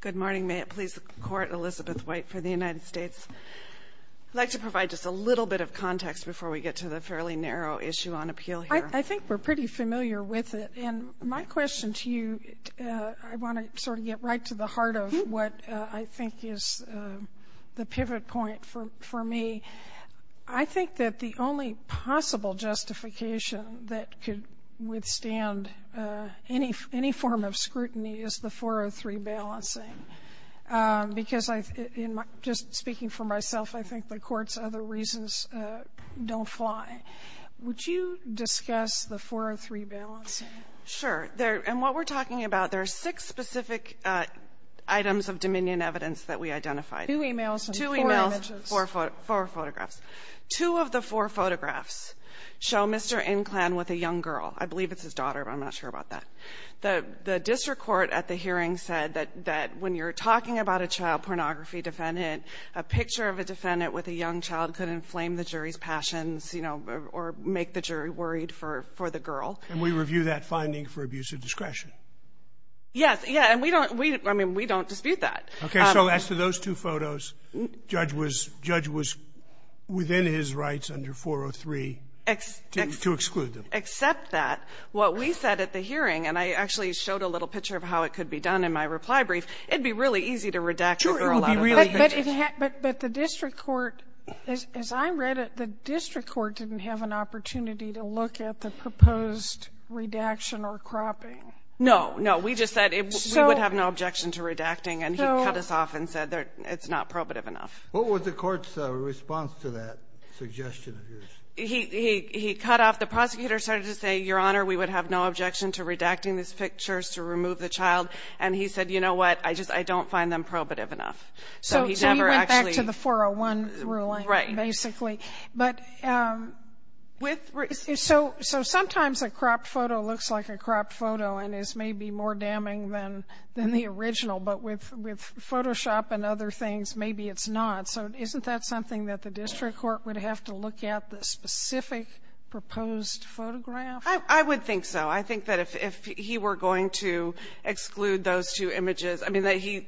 Good morning. May it please the Court, Elizabeth White for the United States. I'd like to provide just a little bit of context before we get to the fairly narrow issue on appeal here. I think we're pretty familiar with it. And my question to you, I want to sort of get right to the heart of what I think is the pivot point for me. I think that the only possible justification that could withstand any form of scrutiny is the 403 balancing. Because just speaking for myself, I think the Court's other reasons don't fly. Would you discuss the 403 balancing? Sure. And what we're talking about, there are six specific items of Dominion evidence that we identified. Two emails and four images. Two of the four photographs show Mr. Inclan with a young girl. I believe it's his daughter, but I'm not sure about that. The district court at the hearing said that when you're talking about a child pornography defendant, a picture of a defendant with a young child could inflame the jury's passions, you know, or make the jury worried for the girl. And we review that finding for abuse of discretion. Yes, yeah, and we don't dispute that. Okay. So as to those two photos, judge was within his rights under 403 to exclude them. Except that what we said at the hearing, and I actually showed a little picture of how it could be done in my reply brief, it would be really easy to redact the girl out of it. But the district court, as I read it, the district court didn't have an opportunity to look at the proposed redaction or cropping. No, no. We just said we would have no objection to redacting. And he cut us off and said it's not probative enough. What was the court's response to that suggestion of yours? He cut off. The prosecutor started to say, Your Honor, we would have no objection to redacting these pictures to remove the child. And he said, you know what, I just don't find them probative enough. So he never actually. So he went back to the 401 ruling, basically. Right. So sometimes a cropped photo looks like a cropped photo and is maybe more damning than the original, but with Photoshop and other things, maybe it's not. So isn't that something that the district court would have to look at the specific proposed photograph? I would think so. I think that if he were going to exclude those two images, I mean,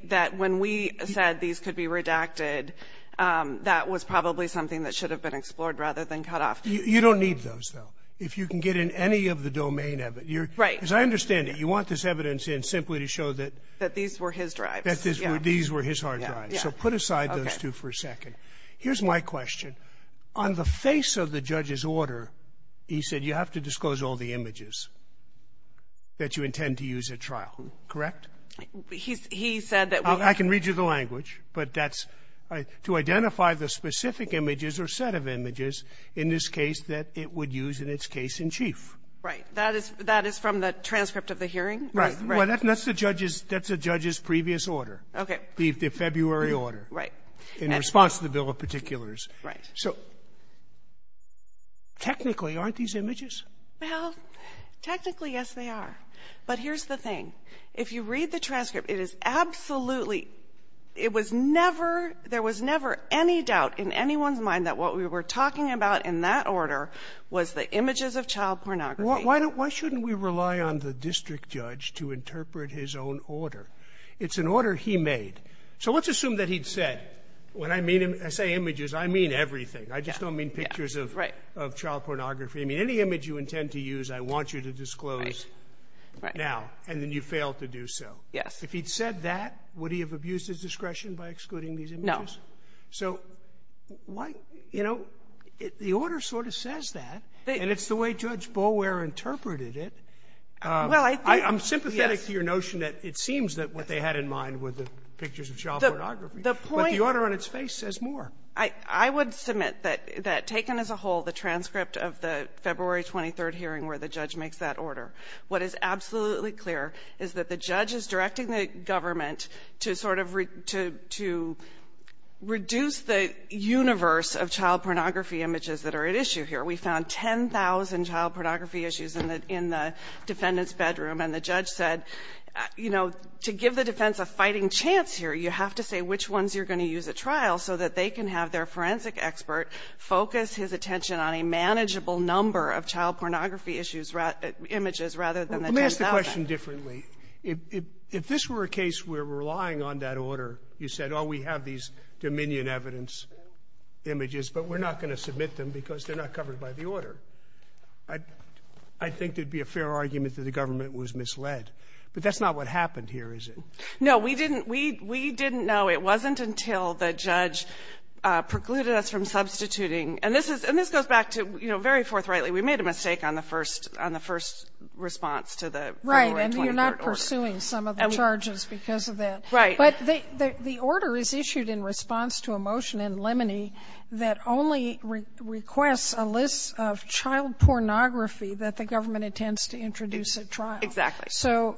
that when we said these could be redacted, that was probably something that should have been explored rather than cut off. You don't need those, though, if you can get in any of the domain of it. Right. As I understand it, you want this evidence in simply to show that. That these were his drives. These were his hard drives. So put aside those two for a second. Here's my question. On the face of the judge's order, he said you have to disclose all the images that you intend to use at trial, correct? He said that we. I can read you the language, but that's to identify the specific images or set of images in this case that it would use in its case in chief. Right. That is from the transcript of the hearing? Right. Well, that's the judge's previous order. Okay. The February order. Right. In response to the bill of particulars. Right. So technically, aren't these images? Well, technically, yes, they are. But here's the thing. If you read the transcript, it is absolutely, it was never, there was never any doubt in anyone's mind that what we were talking about in that order was the images of child pornography. Why don't, why shouldn't we rely on the district judge to interpret his own order? It's an order he made. So let's assume that he'd said, when I mean, I say images, I mean everything. I just don't mean pictures of. Right. Of child pornography. I mean, any image you intend to use, I want you to disclose. Right. Now, and then you fail to do so. Yes. If he'd said that, would he have abused his discretion by excluding these images? No. So why, you know, the order sort of says that, and it's the way Judge Boulware interpreted it. Well, I think, yes. I'm sympathetic to your notion that it seems that what they had in mind were the pictures of child pornography. The point. But the order on its face says more. I would submit that taken as a whole, the transcript of the February 23rd hearing where the judge makes that order, what is absolutely clear is that the judge is directing the government to sort of reduce the universe of child pornography images that are at issue here. We found 10,000 child pornography issues in the defendant's bedroom, and the judge said, you know, to give the defense a fighting chance here, you have to say which ones you're going to use at trial so that they can have their forensic expert focus his attention on a manageable number of child pornography issues images rather than the 10,000. Let me ask the question differently. If this were a case where we're relying on that order, you said, oh, we have these dominion evidence images, but we're not going to submit them because they're not covered by the order. I think there would be a fair argument that the government was misled. But that's not what happened here, is it? No. We didn't know. It wasn't until the judge precluded us from substituting, and this goes back to, you know, very forthrightly, we made a mistake on the first response to the February 23rd order. Right. And you're not pursuing some of the charges because of that. Right. But the order is issued in response to a motion in Lemony that only requests a list of child pornography that the government intends to introduce at trial. Exactly. So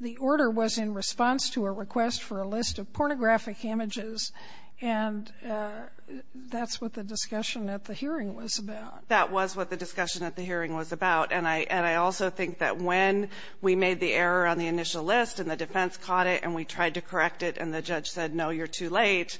the order was in response to a request for a list of pornographic images, and that's what the discussion at the hearing was about. That was what the discussion at the hearing was about. And I also think that when we made the error on the initial list and the defense caught it and we tried to correct it and the judge said, no, you're too late,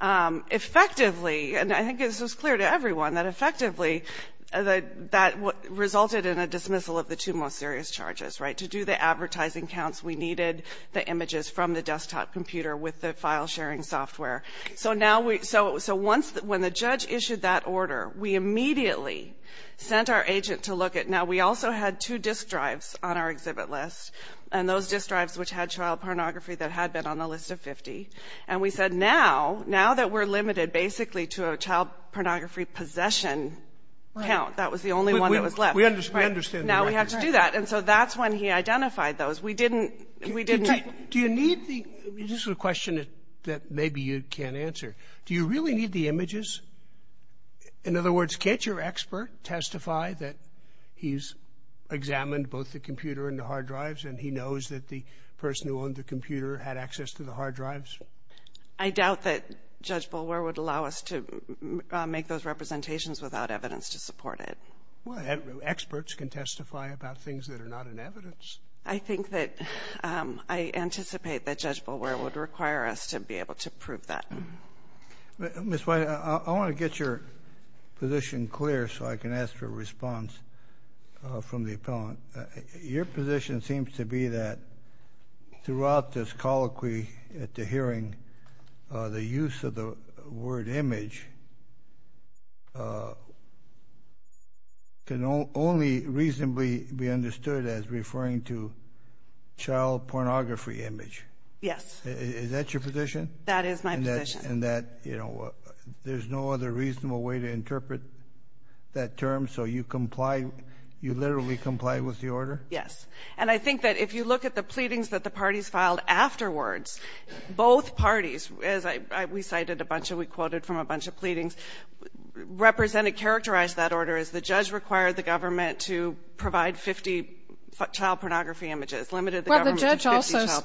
effectively, and I think this was clear to everyone, that effectively that resulted in a dismissal of the two most serious charges. Right. To do the advertising counts, we needed the images from the desktop computer with the file sharing software. So now we so once when the judge issued that order, we immediately sent our agent to look at now we also had two disk drives on our exhibit list, and those disk drives which had child pornography that had been on the list of 50, and we said now, now that we're limited basically to a child pornography possession count, that was the only one that was left. We understand. Now we have to do that. And so that's when he identified those. We didn't, we didn't. Do you need the, this is a question that maybe you can't answer. Do you really need the images? In other words, can't your expert testify that he's examined both the computer and the hard drives and he knows that the person who owned the computer had access to the hard drives? I doubt that Judge Boulware would allow us to make those representations without evidence to support it. Well, experts can testify about things that are not in evidence. I think that I anticipate that Judge Boulware would require us to be able to prove that. Ms. White, I want to get your position clear so I can ask for a response from the appellant. Your position seems to be that throughout this colloquy at the hearing, the use of the word image can only reasonably be understood as referring to child pornography image. Yes. Is that your position? That is my position. And that, you know, there's no other reasonable way to interpret that term, so you comply, you literally comply with the order? Yes. And I think that if you look at the pleadings that the parties filed afterwards, both parties, as we cited a bunch of, we quoted from a bunch of pleadings, represented, characterized that order as the judge required the government to provide 50 child pornography images, limited the government to 50 child pornography images. Well,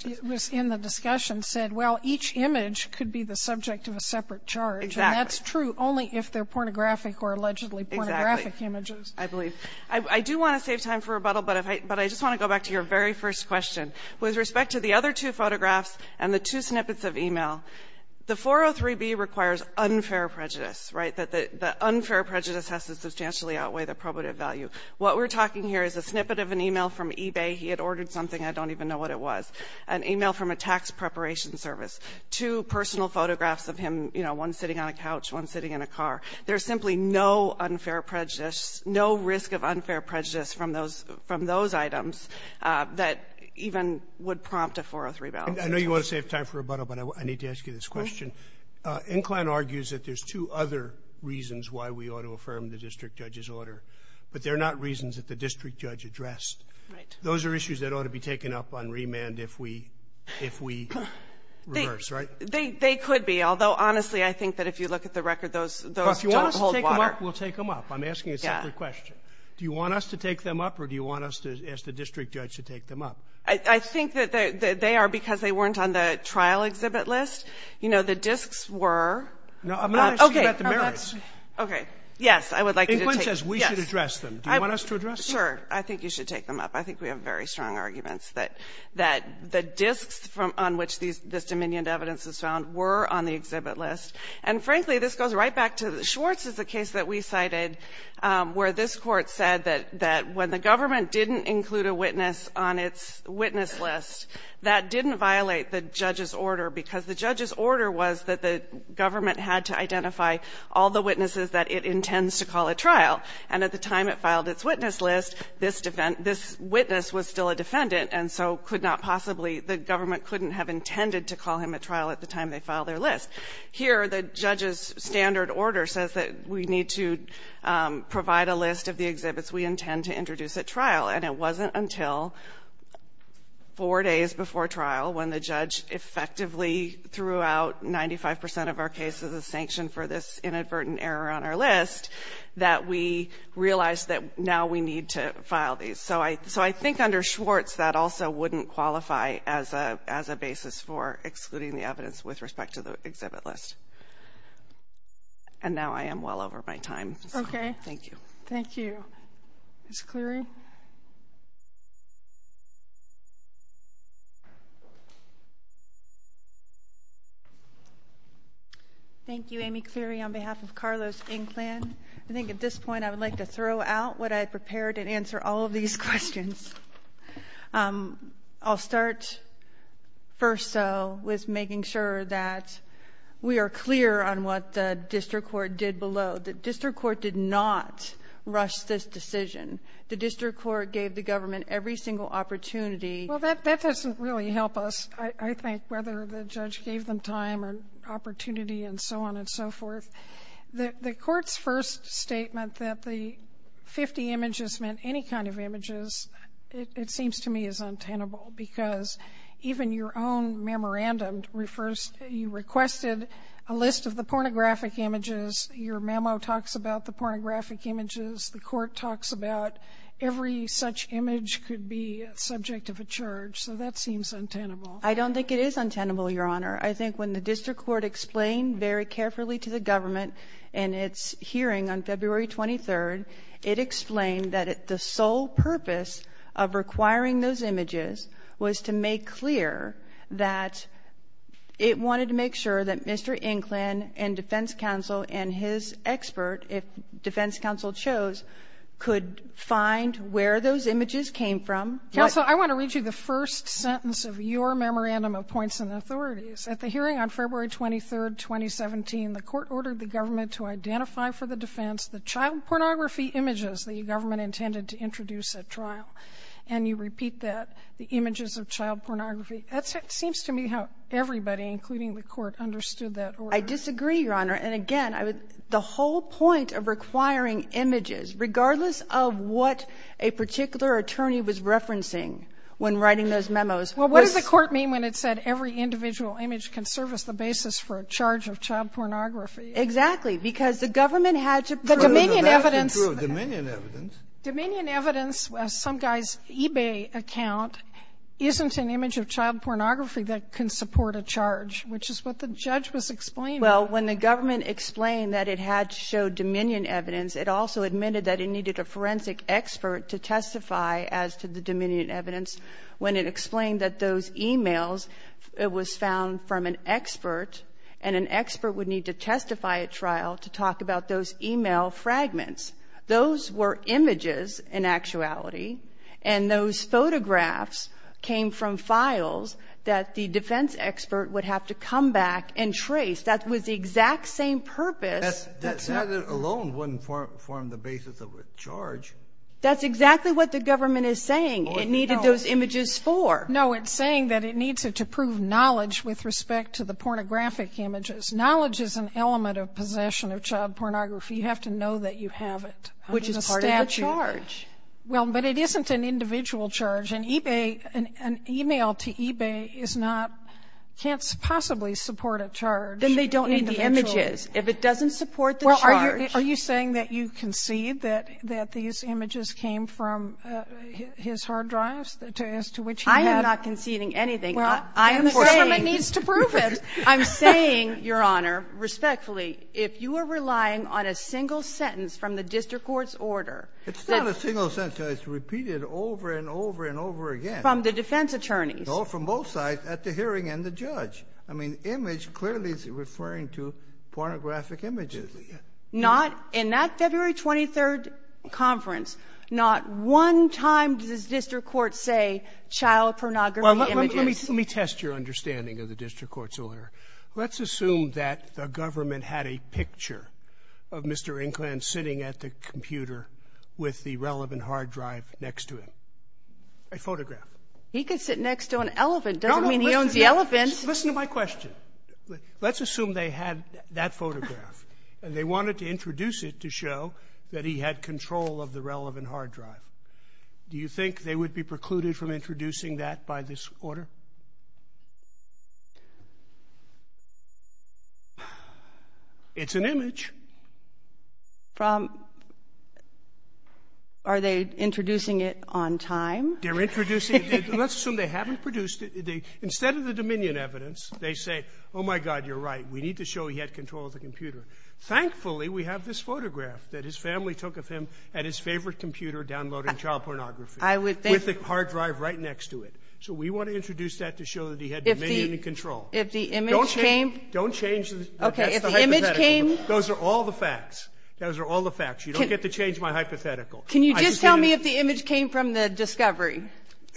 the judge also was in the discussion, said, well, each image could be the subject of a separate charge. Exactly. And that's true only if they're pornographic or allegedly pornographic images. Exactly. I believe. I do want to save time for rebuttal, but I just want to go back to your very first question. With respect to the other two photographs and the two snippets of e-mail, the 403B requires unfair prejudice, right, that the unfair prejudice has to substantially outweigh the probative value. What we're talking here is a snippet of an e-mail from eBay. He had ordered something. I don't even know what it was. An e-mail from a tax preparation service. Two personal photographs of him, you know, one sitting on a couch, one sitting in a car. There's simply no unfair prejudice, no risk of unfair prejudice from those items that even would prompt a 403B. I know you want to save time for rebuttal, but I need to ask you this question. Incline argues that there's two other reasons why we ought to affirm the district judge's order, but they're not reasons that the district judge addressed. Right. Those are issues that ought to be taken up on remand if we reverse, right? They could be, although, honestly, I think that if you look at the record, those don't hold water. Well, if you want us to take them up, we'll take them up. I'm asking a separate question. Do you want us to take them up, or do you want us to ask the district judge to take them up? I think that they are because they weren't on the trial exhibit list. You know, the disks were. No, I'm not asking about the merits. Okay. Yes, I would like you to take them up. Incline says we should address them. Do you want us to address them? Sure. I think you should take them up. I think we have very strong arguments that the disks on which this dominion of evidence is found were on the exhibit list. And, frankly, this goes right back to the Schwartz case that we cited, where this Court said that when the government didn't include a witness on its witness list, that didn't violate the judge's order, because the judge's order was that the government had to identify all the witnesses that it intends to call at trial. And at the time it filed its witness list, this witness was still a defendant and so could not possibly, the government couldn't have intended to call him at trial at the time they filed their list. Here, the judge's standard order says that we need to provide a list of the exhibits we intend to introduce at trial. And it wasn't until four days before trial, when the judge effectively threw out 95 percent of our cases as sanction for this inadvertent error on our list, that we realized that now we need to file these. So I think under Schwartz, that also wouldn't qualify as a basis for excluding the evidence with respect to the exhibit list. And now I am well over my time. Okay. Thank you. Thank you. Ms. Cleary? Thank you, Amy Cleary, on behalf of Carlos Inklan. I think at this point I would like to throw out what I prepared and answer all of these questions. I'll start first, though, with making sure that we are clear on what the district court did below. The district court did not rush this decision. The district court gave the government every single opportunity. Well, that doesn't really help us, I think, whether the judge gave them time or opportunity and so on and so forth. The court's first statement that the 50 images meant any kind of images, it seems to me is untenable, because even your own memorandum refers to you requested a list of the pornographic images. Your memo talks about the pornographic images. The court talks about every such image could be a subject of a charge. So that seems untenable. I don't think it is untenable, Your Honor. I think when the district court explained very carefully to the government in its hearing on February 23rd, it explained that the sole purpose of requiring those images was to make clear that it wanted to make sure that Mr. Inklan and defense counsel and his expert, if defense counsel chose, could find where those images came from. Counsel, I want to read you the first sentence of your memorandum of points and authorities. At the hearing on February 23rd, 2017, the court ordered the government to identify for the defense the child pornography images the government intended to introduce at trial. And you repeat that, the images of child pornography. That seems to me how everybody, including the court, understood that order. I disagree, Your Honor. And, again, the whole point of requiring images, regardless of what a particular attorney was referencing when writing those memos, was to be clear. And that's the reason why individual image can serve as the basis for a charge of child pornography. Exactly, because the government had to prove the Dominion evidence. The Dominion evidence. Dominion evidence, some guy's eBay account, isn't an image of child pornography that can support a charge, which is what the judge was explaining. Well, when the government explained that it had to show Dominion evidence, it also admitted that it needed a forensic expert to testify as to the Dominion evidence when it explained that those emails, it was found from an expert, and an expert would need to testify at trial to talk about those email fragments. Those were images in actuality, and those photographs came from files that the defense expert would have to come back and trace. That was the exact same purpose. That alone wouldn't form the basis of a charge. That's exactly what the government is saying. It needed those images for. No. It's saying that it needs it to prove knowledge with respect to the pornographic images. Knowledge is an element of possession of child pornography. You have to know that you have it under the statute. Which is part of the charge. Well, but it isn't an individual charge. And eBay, an email to eBay is not, can't possibly support a charge. Then they don't need the images. If it doesn't support the charge. Well, are you saying that you concede that these images came from his hard drives? As to which he had. I am not conceding anything. I am saying. The government needs to prove it. I'm saying, Your Honor, respectfully, if you are relying on a single sentence from the district court's order. It's not a single sentence. It's repeated over and over and over again. From the defense attorneys. No, from both sides at the hearing and the judge. I mean, image clearly is referring to pornographic images. Absolutely. Not in that February 23rd conference. Not one time does the district court say child pornography images. Let me test your understanding of the district court's order. Let's assume that the government had a picture of Mr. Inkland sitting at the computer with the relevant hard drive next to him. A photograph. He could sit next to an elephant. Doesn't mean he owns the elephant. Listen to my question. Let's assume they had that photograph. They wanted to introduce it to show that he had control of the relevant hard drive. Do you think they would be precluded from introducing that by this order? It's an image. Are they introducing it on time? They're introducing it. Let's assume they haven't produced it. Instead of the dominion evidence, they say, oh, my God, you're right, we need to show he had control of the computer. Thankfully, we have this photograph that his family took of him at his favorite computer downloading child pornography. I would think. With the hard drive right next to it. So we want to introduce that to show that he had dominion and control. If the image came? Don't change the hypothetical. Okay, if the image came? Those are all the facts. Those are all the facts. You don't get to change my hypothetical. Can you just tell me if the image came from the discovery?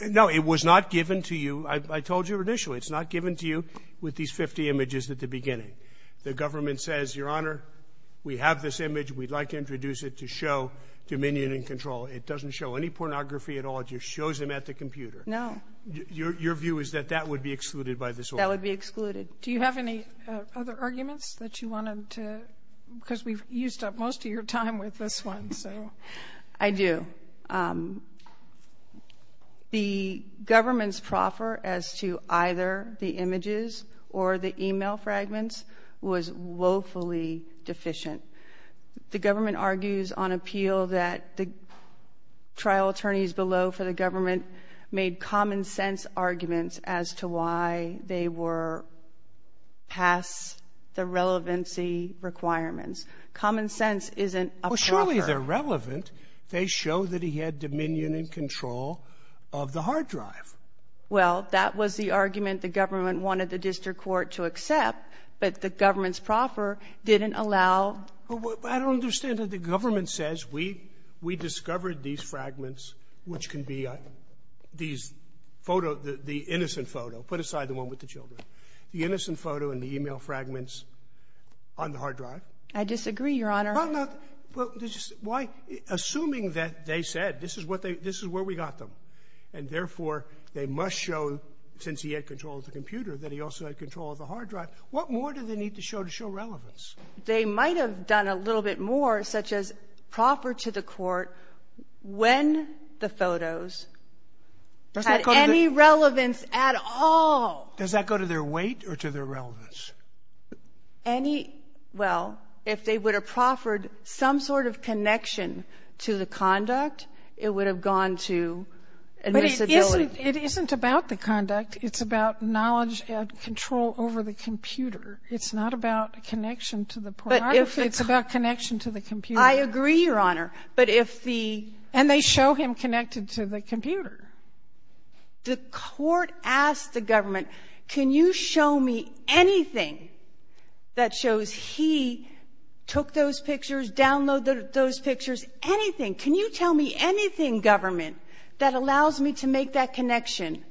No, it was not given to you. I told you initially, it's not given to you with these 50 images at the beginning. The government says, Your Honor, we have this image. We'd like to introduce it to show dominion and control. It doesn't show any pornography at all. It just shows him at the computer. No. Your view is that that would be excluded by this order. That would be excluded. Do you have any other arguments that you wanted to, because we've used up most of your time with this one, so. I do. The government's proffer as to either the images or the e-mail fragments was woefully deficient. The government argues on appeal that the trial attorneys below for the government made common sense arguments as to why they were past the relevancy requirements. Common sense isn't a proffer. Well, surely they're relevant. They show that he had dominion and control of the hard drive. Well, that was the argument the government wanted the district court to accept, but the government's proffer didn't allow. I don't understand that the government says we discovered these fragments, which can be these photos, the innocent photo. Put aside the one with the children. The innocent photo and the e-mail fragments on the hard drive. I disagree, Your Honor. Well, why, assuming that they said this is what they, this is where we got them, and therefore they must show, since he had control of the computer, that he also had control of the hard drive, what more do they need to show to show relevance? They might have done a little bit more, such as proffer to the court when the photos had any relevance at all. Does that go to their weight or to their relevance? Any, well, if they would have proffered some sort of connection to the conduct, it would have gone to admissibility. But it isn't about the conduct. It's about knowledge and control over the computer. It's not about connection to the pornography. It's about connection to the computer. I agree, Your Honor. But if the ---- And they show him connected to the computer. The court asked the government, can you show me anything that shows he took those pictures, downloaded those pictures, anything, can you tell me anything, government, that allows me to make that connection?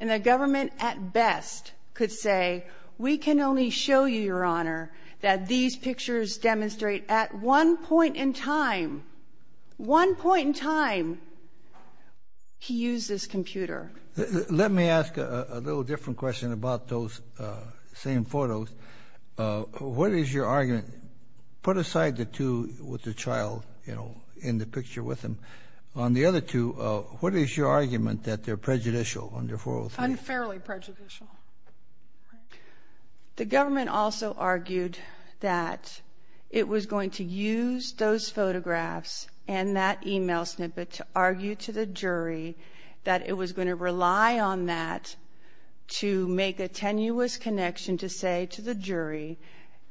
And the government, at best, could say, we can only show you, Your Honor, that these pictures demonstrate at one point in time, one point in time, he used this computer. Let me ask a little different question about those same photos. What is your argument? Put aside the two with the child, you know, in the picture with him. On the other two, what is your argument that they're prejudicial under 403? Unfairly prejudicial. The government also argued that it was going to use those photographs and that e-mail snippet to argue to the jury that it was going to rely on that to make a tenuous connection to say to the jury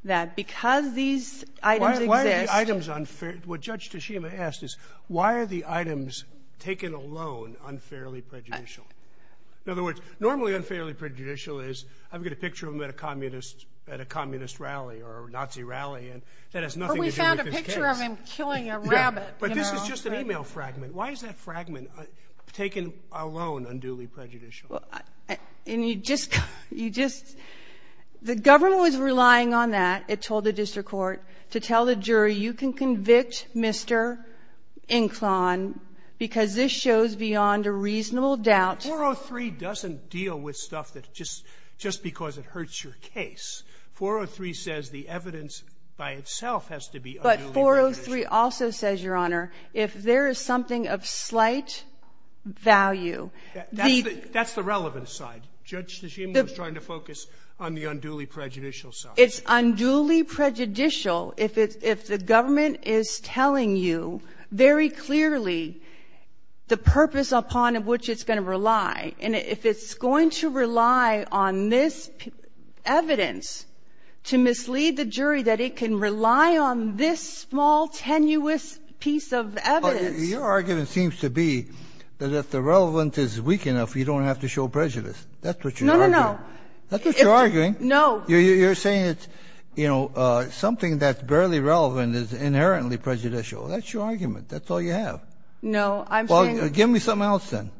that because these items exist ---- Why are the items unfair? What Judge Tashima asked is, why are the items taken alone unfairly prejudicial? In other words, normally unfairly prejudicial is, I've got a picture of him at a communist rally or a Nazi rally, and that has nothing to do with this case. But we found a picture of him killing a rabbit. But this is just an e-mail fragment. Why is that fragment taken alone unduly prejudicial? And you just ---- the government was relying on that, it told the district court, to tell the jury, you can convict Mr. Inclon because this shows beyond a reasonable doubt ---- 403 doesn't deal with stuff that just because it hurts your case. 403 says the evidence by itself has to be unduly prejudicial. But 403 also says, Your Honor, if there is something of slight value, the ---- That's the relevant side. Judge Tashima was trying to focus on the unduly prejudicial side. It's unduly prejudicial if the government is telling you very clearly the purpose upon which it's going to rely. And if it's going to rely on this evidence to mislead the jury, that it can rely on this small, tenuous piece of evidence. Your argument seems to be that if the relevant is weak enough, you don't have to show prejudice. That's what you're arguing. No, no, no. That's what you're arguing. You're saying it's, you know, something that's barely relevant is inherently prejudicial. That's your argument. That's all you have. No, I'm saying ---- Well, give me something else then.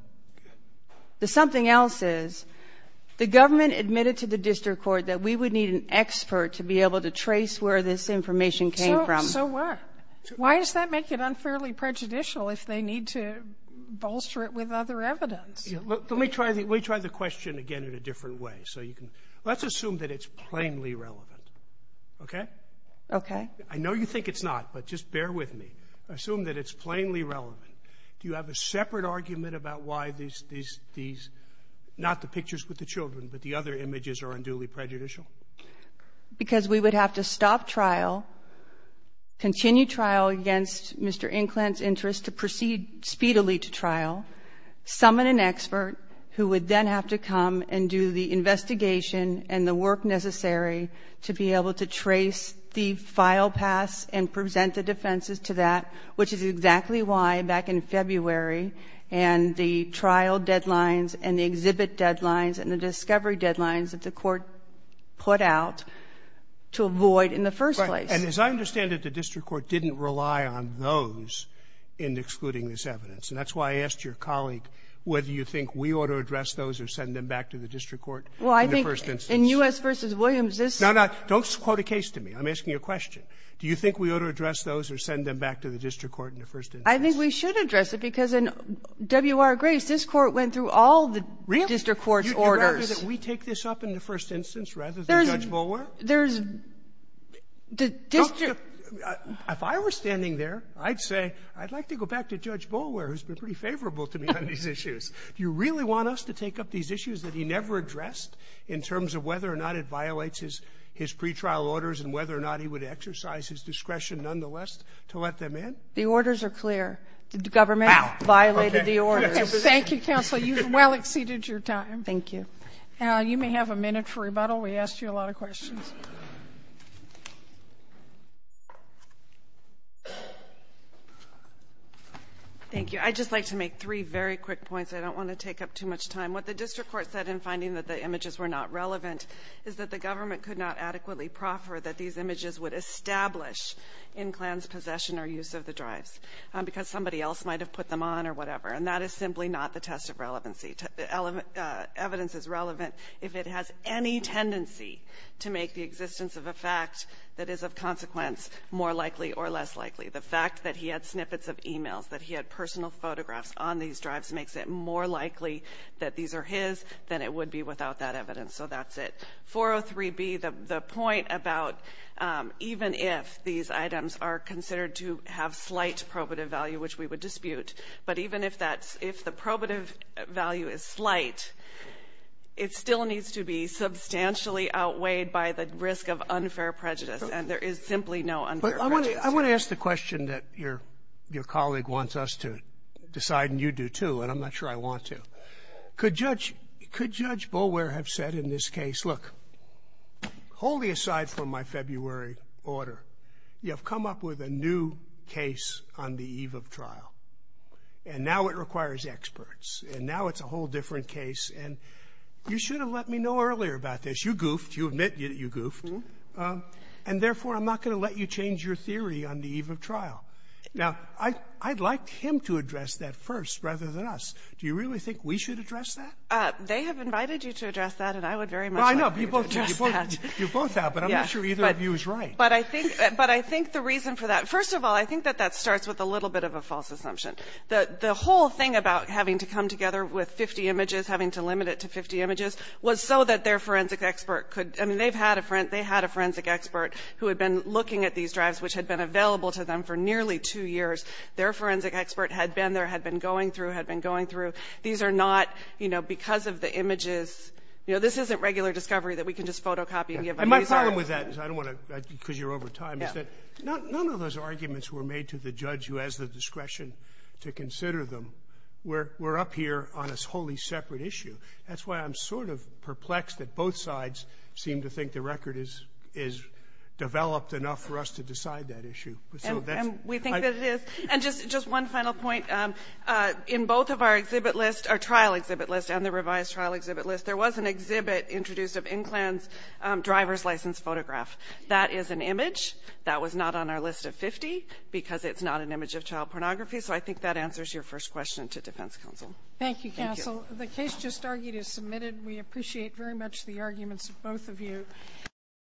The something else is the government admitted to the district court that we would need an expert to be able to trace where this information came from. So what? Why does that make it unfairly prejudicial if they need to bolster it with other evidence? Let me try the question again in a different way. So you can ---- let's assume that it's plainly relevant. Okay? Okay. I know you think it's not, but just bear with me. Assume that it's plainly relevant. Do you have a separate argument about why these ---- not the pictures with the children, but the other images are unduly prejudicial? Because we would have to stop trial, continue trial against Mr. Inkland's interest to proceed speedily to trial, summon an expert who would then have to come and do the investigation and the work necessary to be able to trace the file paths and present the defenses to that, which is exactly why, back in February, and the trial deadlines and the exhibit deadlines and the discovery deadlines that the Court put out to avoid in the first place. Right. And as I understand it, the district court didn't rely on those in excluding this evidence. And that's why I asked your colleague whether you think we ought to address those or send them back to the district court in the first instance. Well, I think in U.S. v. Williams, this ---- No, no. Don't quote a case to me. I'm asking a question. Do you think we ought to address those or send them back to the district court in the first instance? I think we should address it because in W.R. Grace, this Court went through all the district court's orders. Really? You'd rather that we take this up in the first instance rather than Judge Bolwer? There's the district ---- If I were standing there, I'd say, I'd like to go back to Judge Bolwer, who's been pretty favorable to me on these issues. Do you really want us to take up these issues that he never addressed in terms of whether or not it violates his pretrial orders and whether or not he would exercise his discretion, nonetheless, to let them in? The orders are clear. The government violated the orders. Thank you, counsel. You've well exceeded your time. Thank you. You may have a minute for rebuttal. We asked you a lot of questions. Thank you. I just like to make three very quick points. I don't want to take up too much time. What the district court said in finding that the images were not relevant is that the government could not adequately proffer that these images would establish in Klan's possession or use of the drives because somebody else might have put them on or whatever. And that is simply not the test of relevancy. Evidence is relevant if it has any tendency to make the existence of a fact that is of consequence more likely or less likely. The fact that he had snippets of e-mails, that he had personal photographs on these drives makes it more likely that these are his than it would be without that evidence. So that's it. 403B, the point about even if these items are considered to have slight probative value, which we would dispute, but even if that's the probative value is slight, it still needs to be substantially outweighed by the risk of unfair prejudice. And there is simply no unfair prejudice. Sotomayor, I want to ask the question that your colleague wants us to decide, and you do, too, and I'm not sure I want to. Could Judge Boulware have said in this case, look, wholly aside from my February order, you have come up with a new case on the eve of trial, and now it requires experts, and now it's a whole different case, and you should have let me know earlier about this. You admit you goofed. And therefore, I'm not going to let you change your theory on the eve of trial. Now, I'd like him to address that first rather than us. Do you really think we should address that? They have invited you to address that, and I would very much like you to address that. Well, I know. You both have. But I'm not sure either of you is right. But I think the reason for that, first of all, I think that that starts with a little bit of a false assumption, that the whole thing about having to come together with 50 images, having to limit it to 50 images, was so that their forensic expert could – I mean, they've had a – they had a forensic expert who had been looking at these drives, which had been available to them for nearly two years. Their forensic expert had been there, had been going through, had been going through. These are not, you know, because of the images – you know, this isn't regular discovery that we can just photocopy and give them these are. And my problem with that is I don't want to – because you're over time, is that none of those arguments were made to the judge who has the discretion to consider We're up here on a wholly separate issue. That's why I'm sort of perplexed that both sides seem to think the record is developed enough for us to decide that issue. So that's – And we think that it is. And just one final point. In both of our exhibit list, our trial exhibit list and the revised trial exhibit list, there was an exhibit introduced of Inkland's driver's license photograph. That is an image. That was not on our list of 50 because it's not an image of child pornography. So I think that answers your first question to defense counsel. Thank you, counsel. The case just argued is submitted. We appreciate very much the arguments of both of you.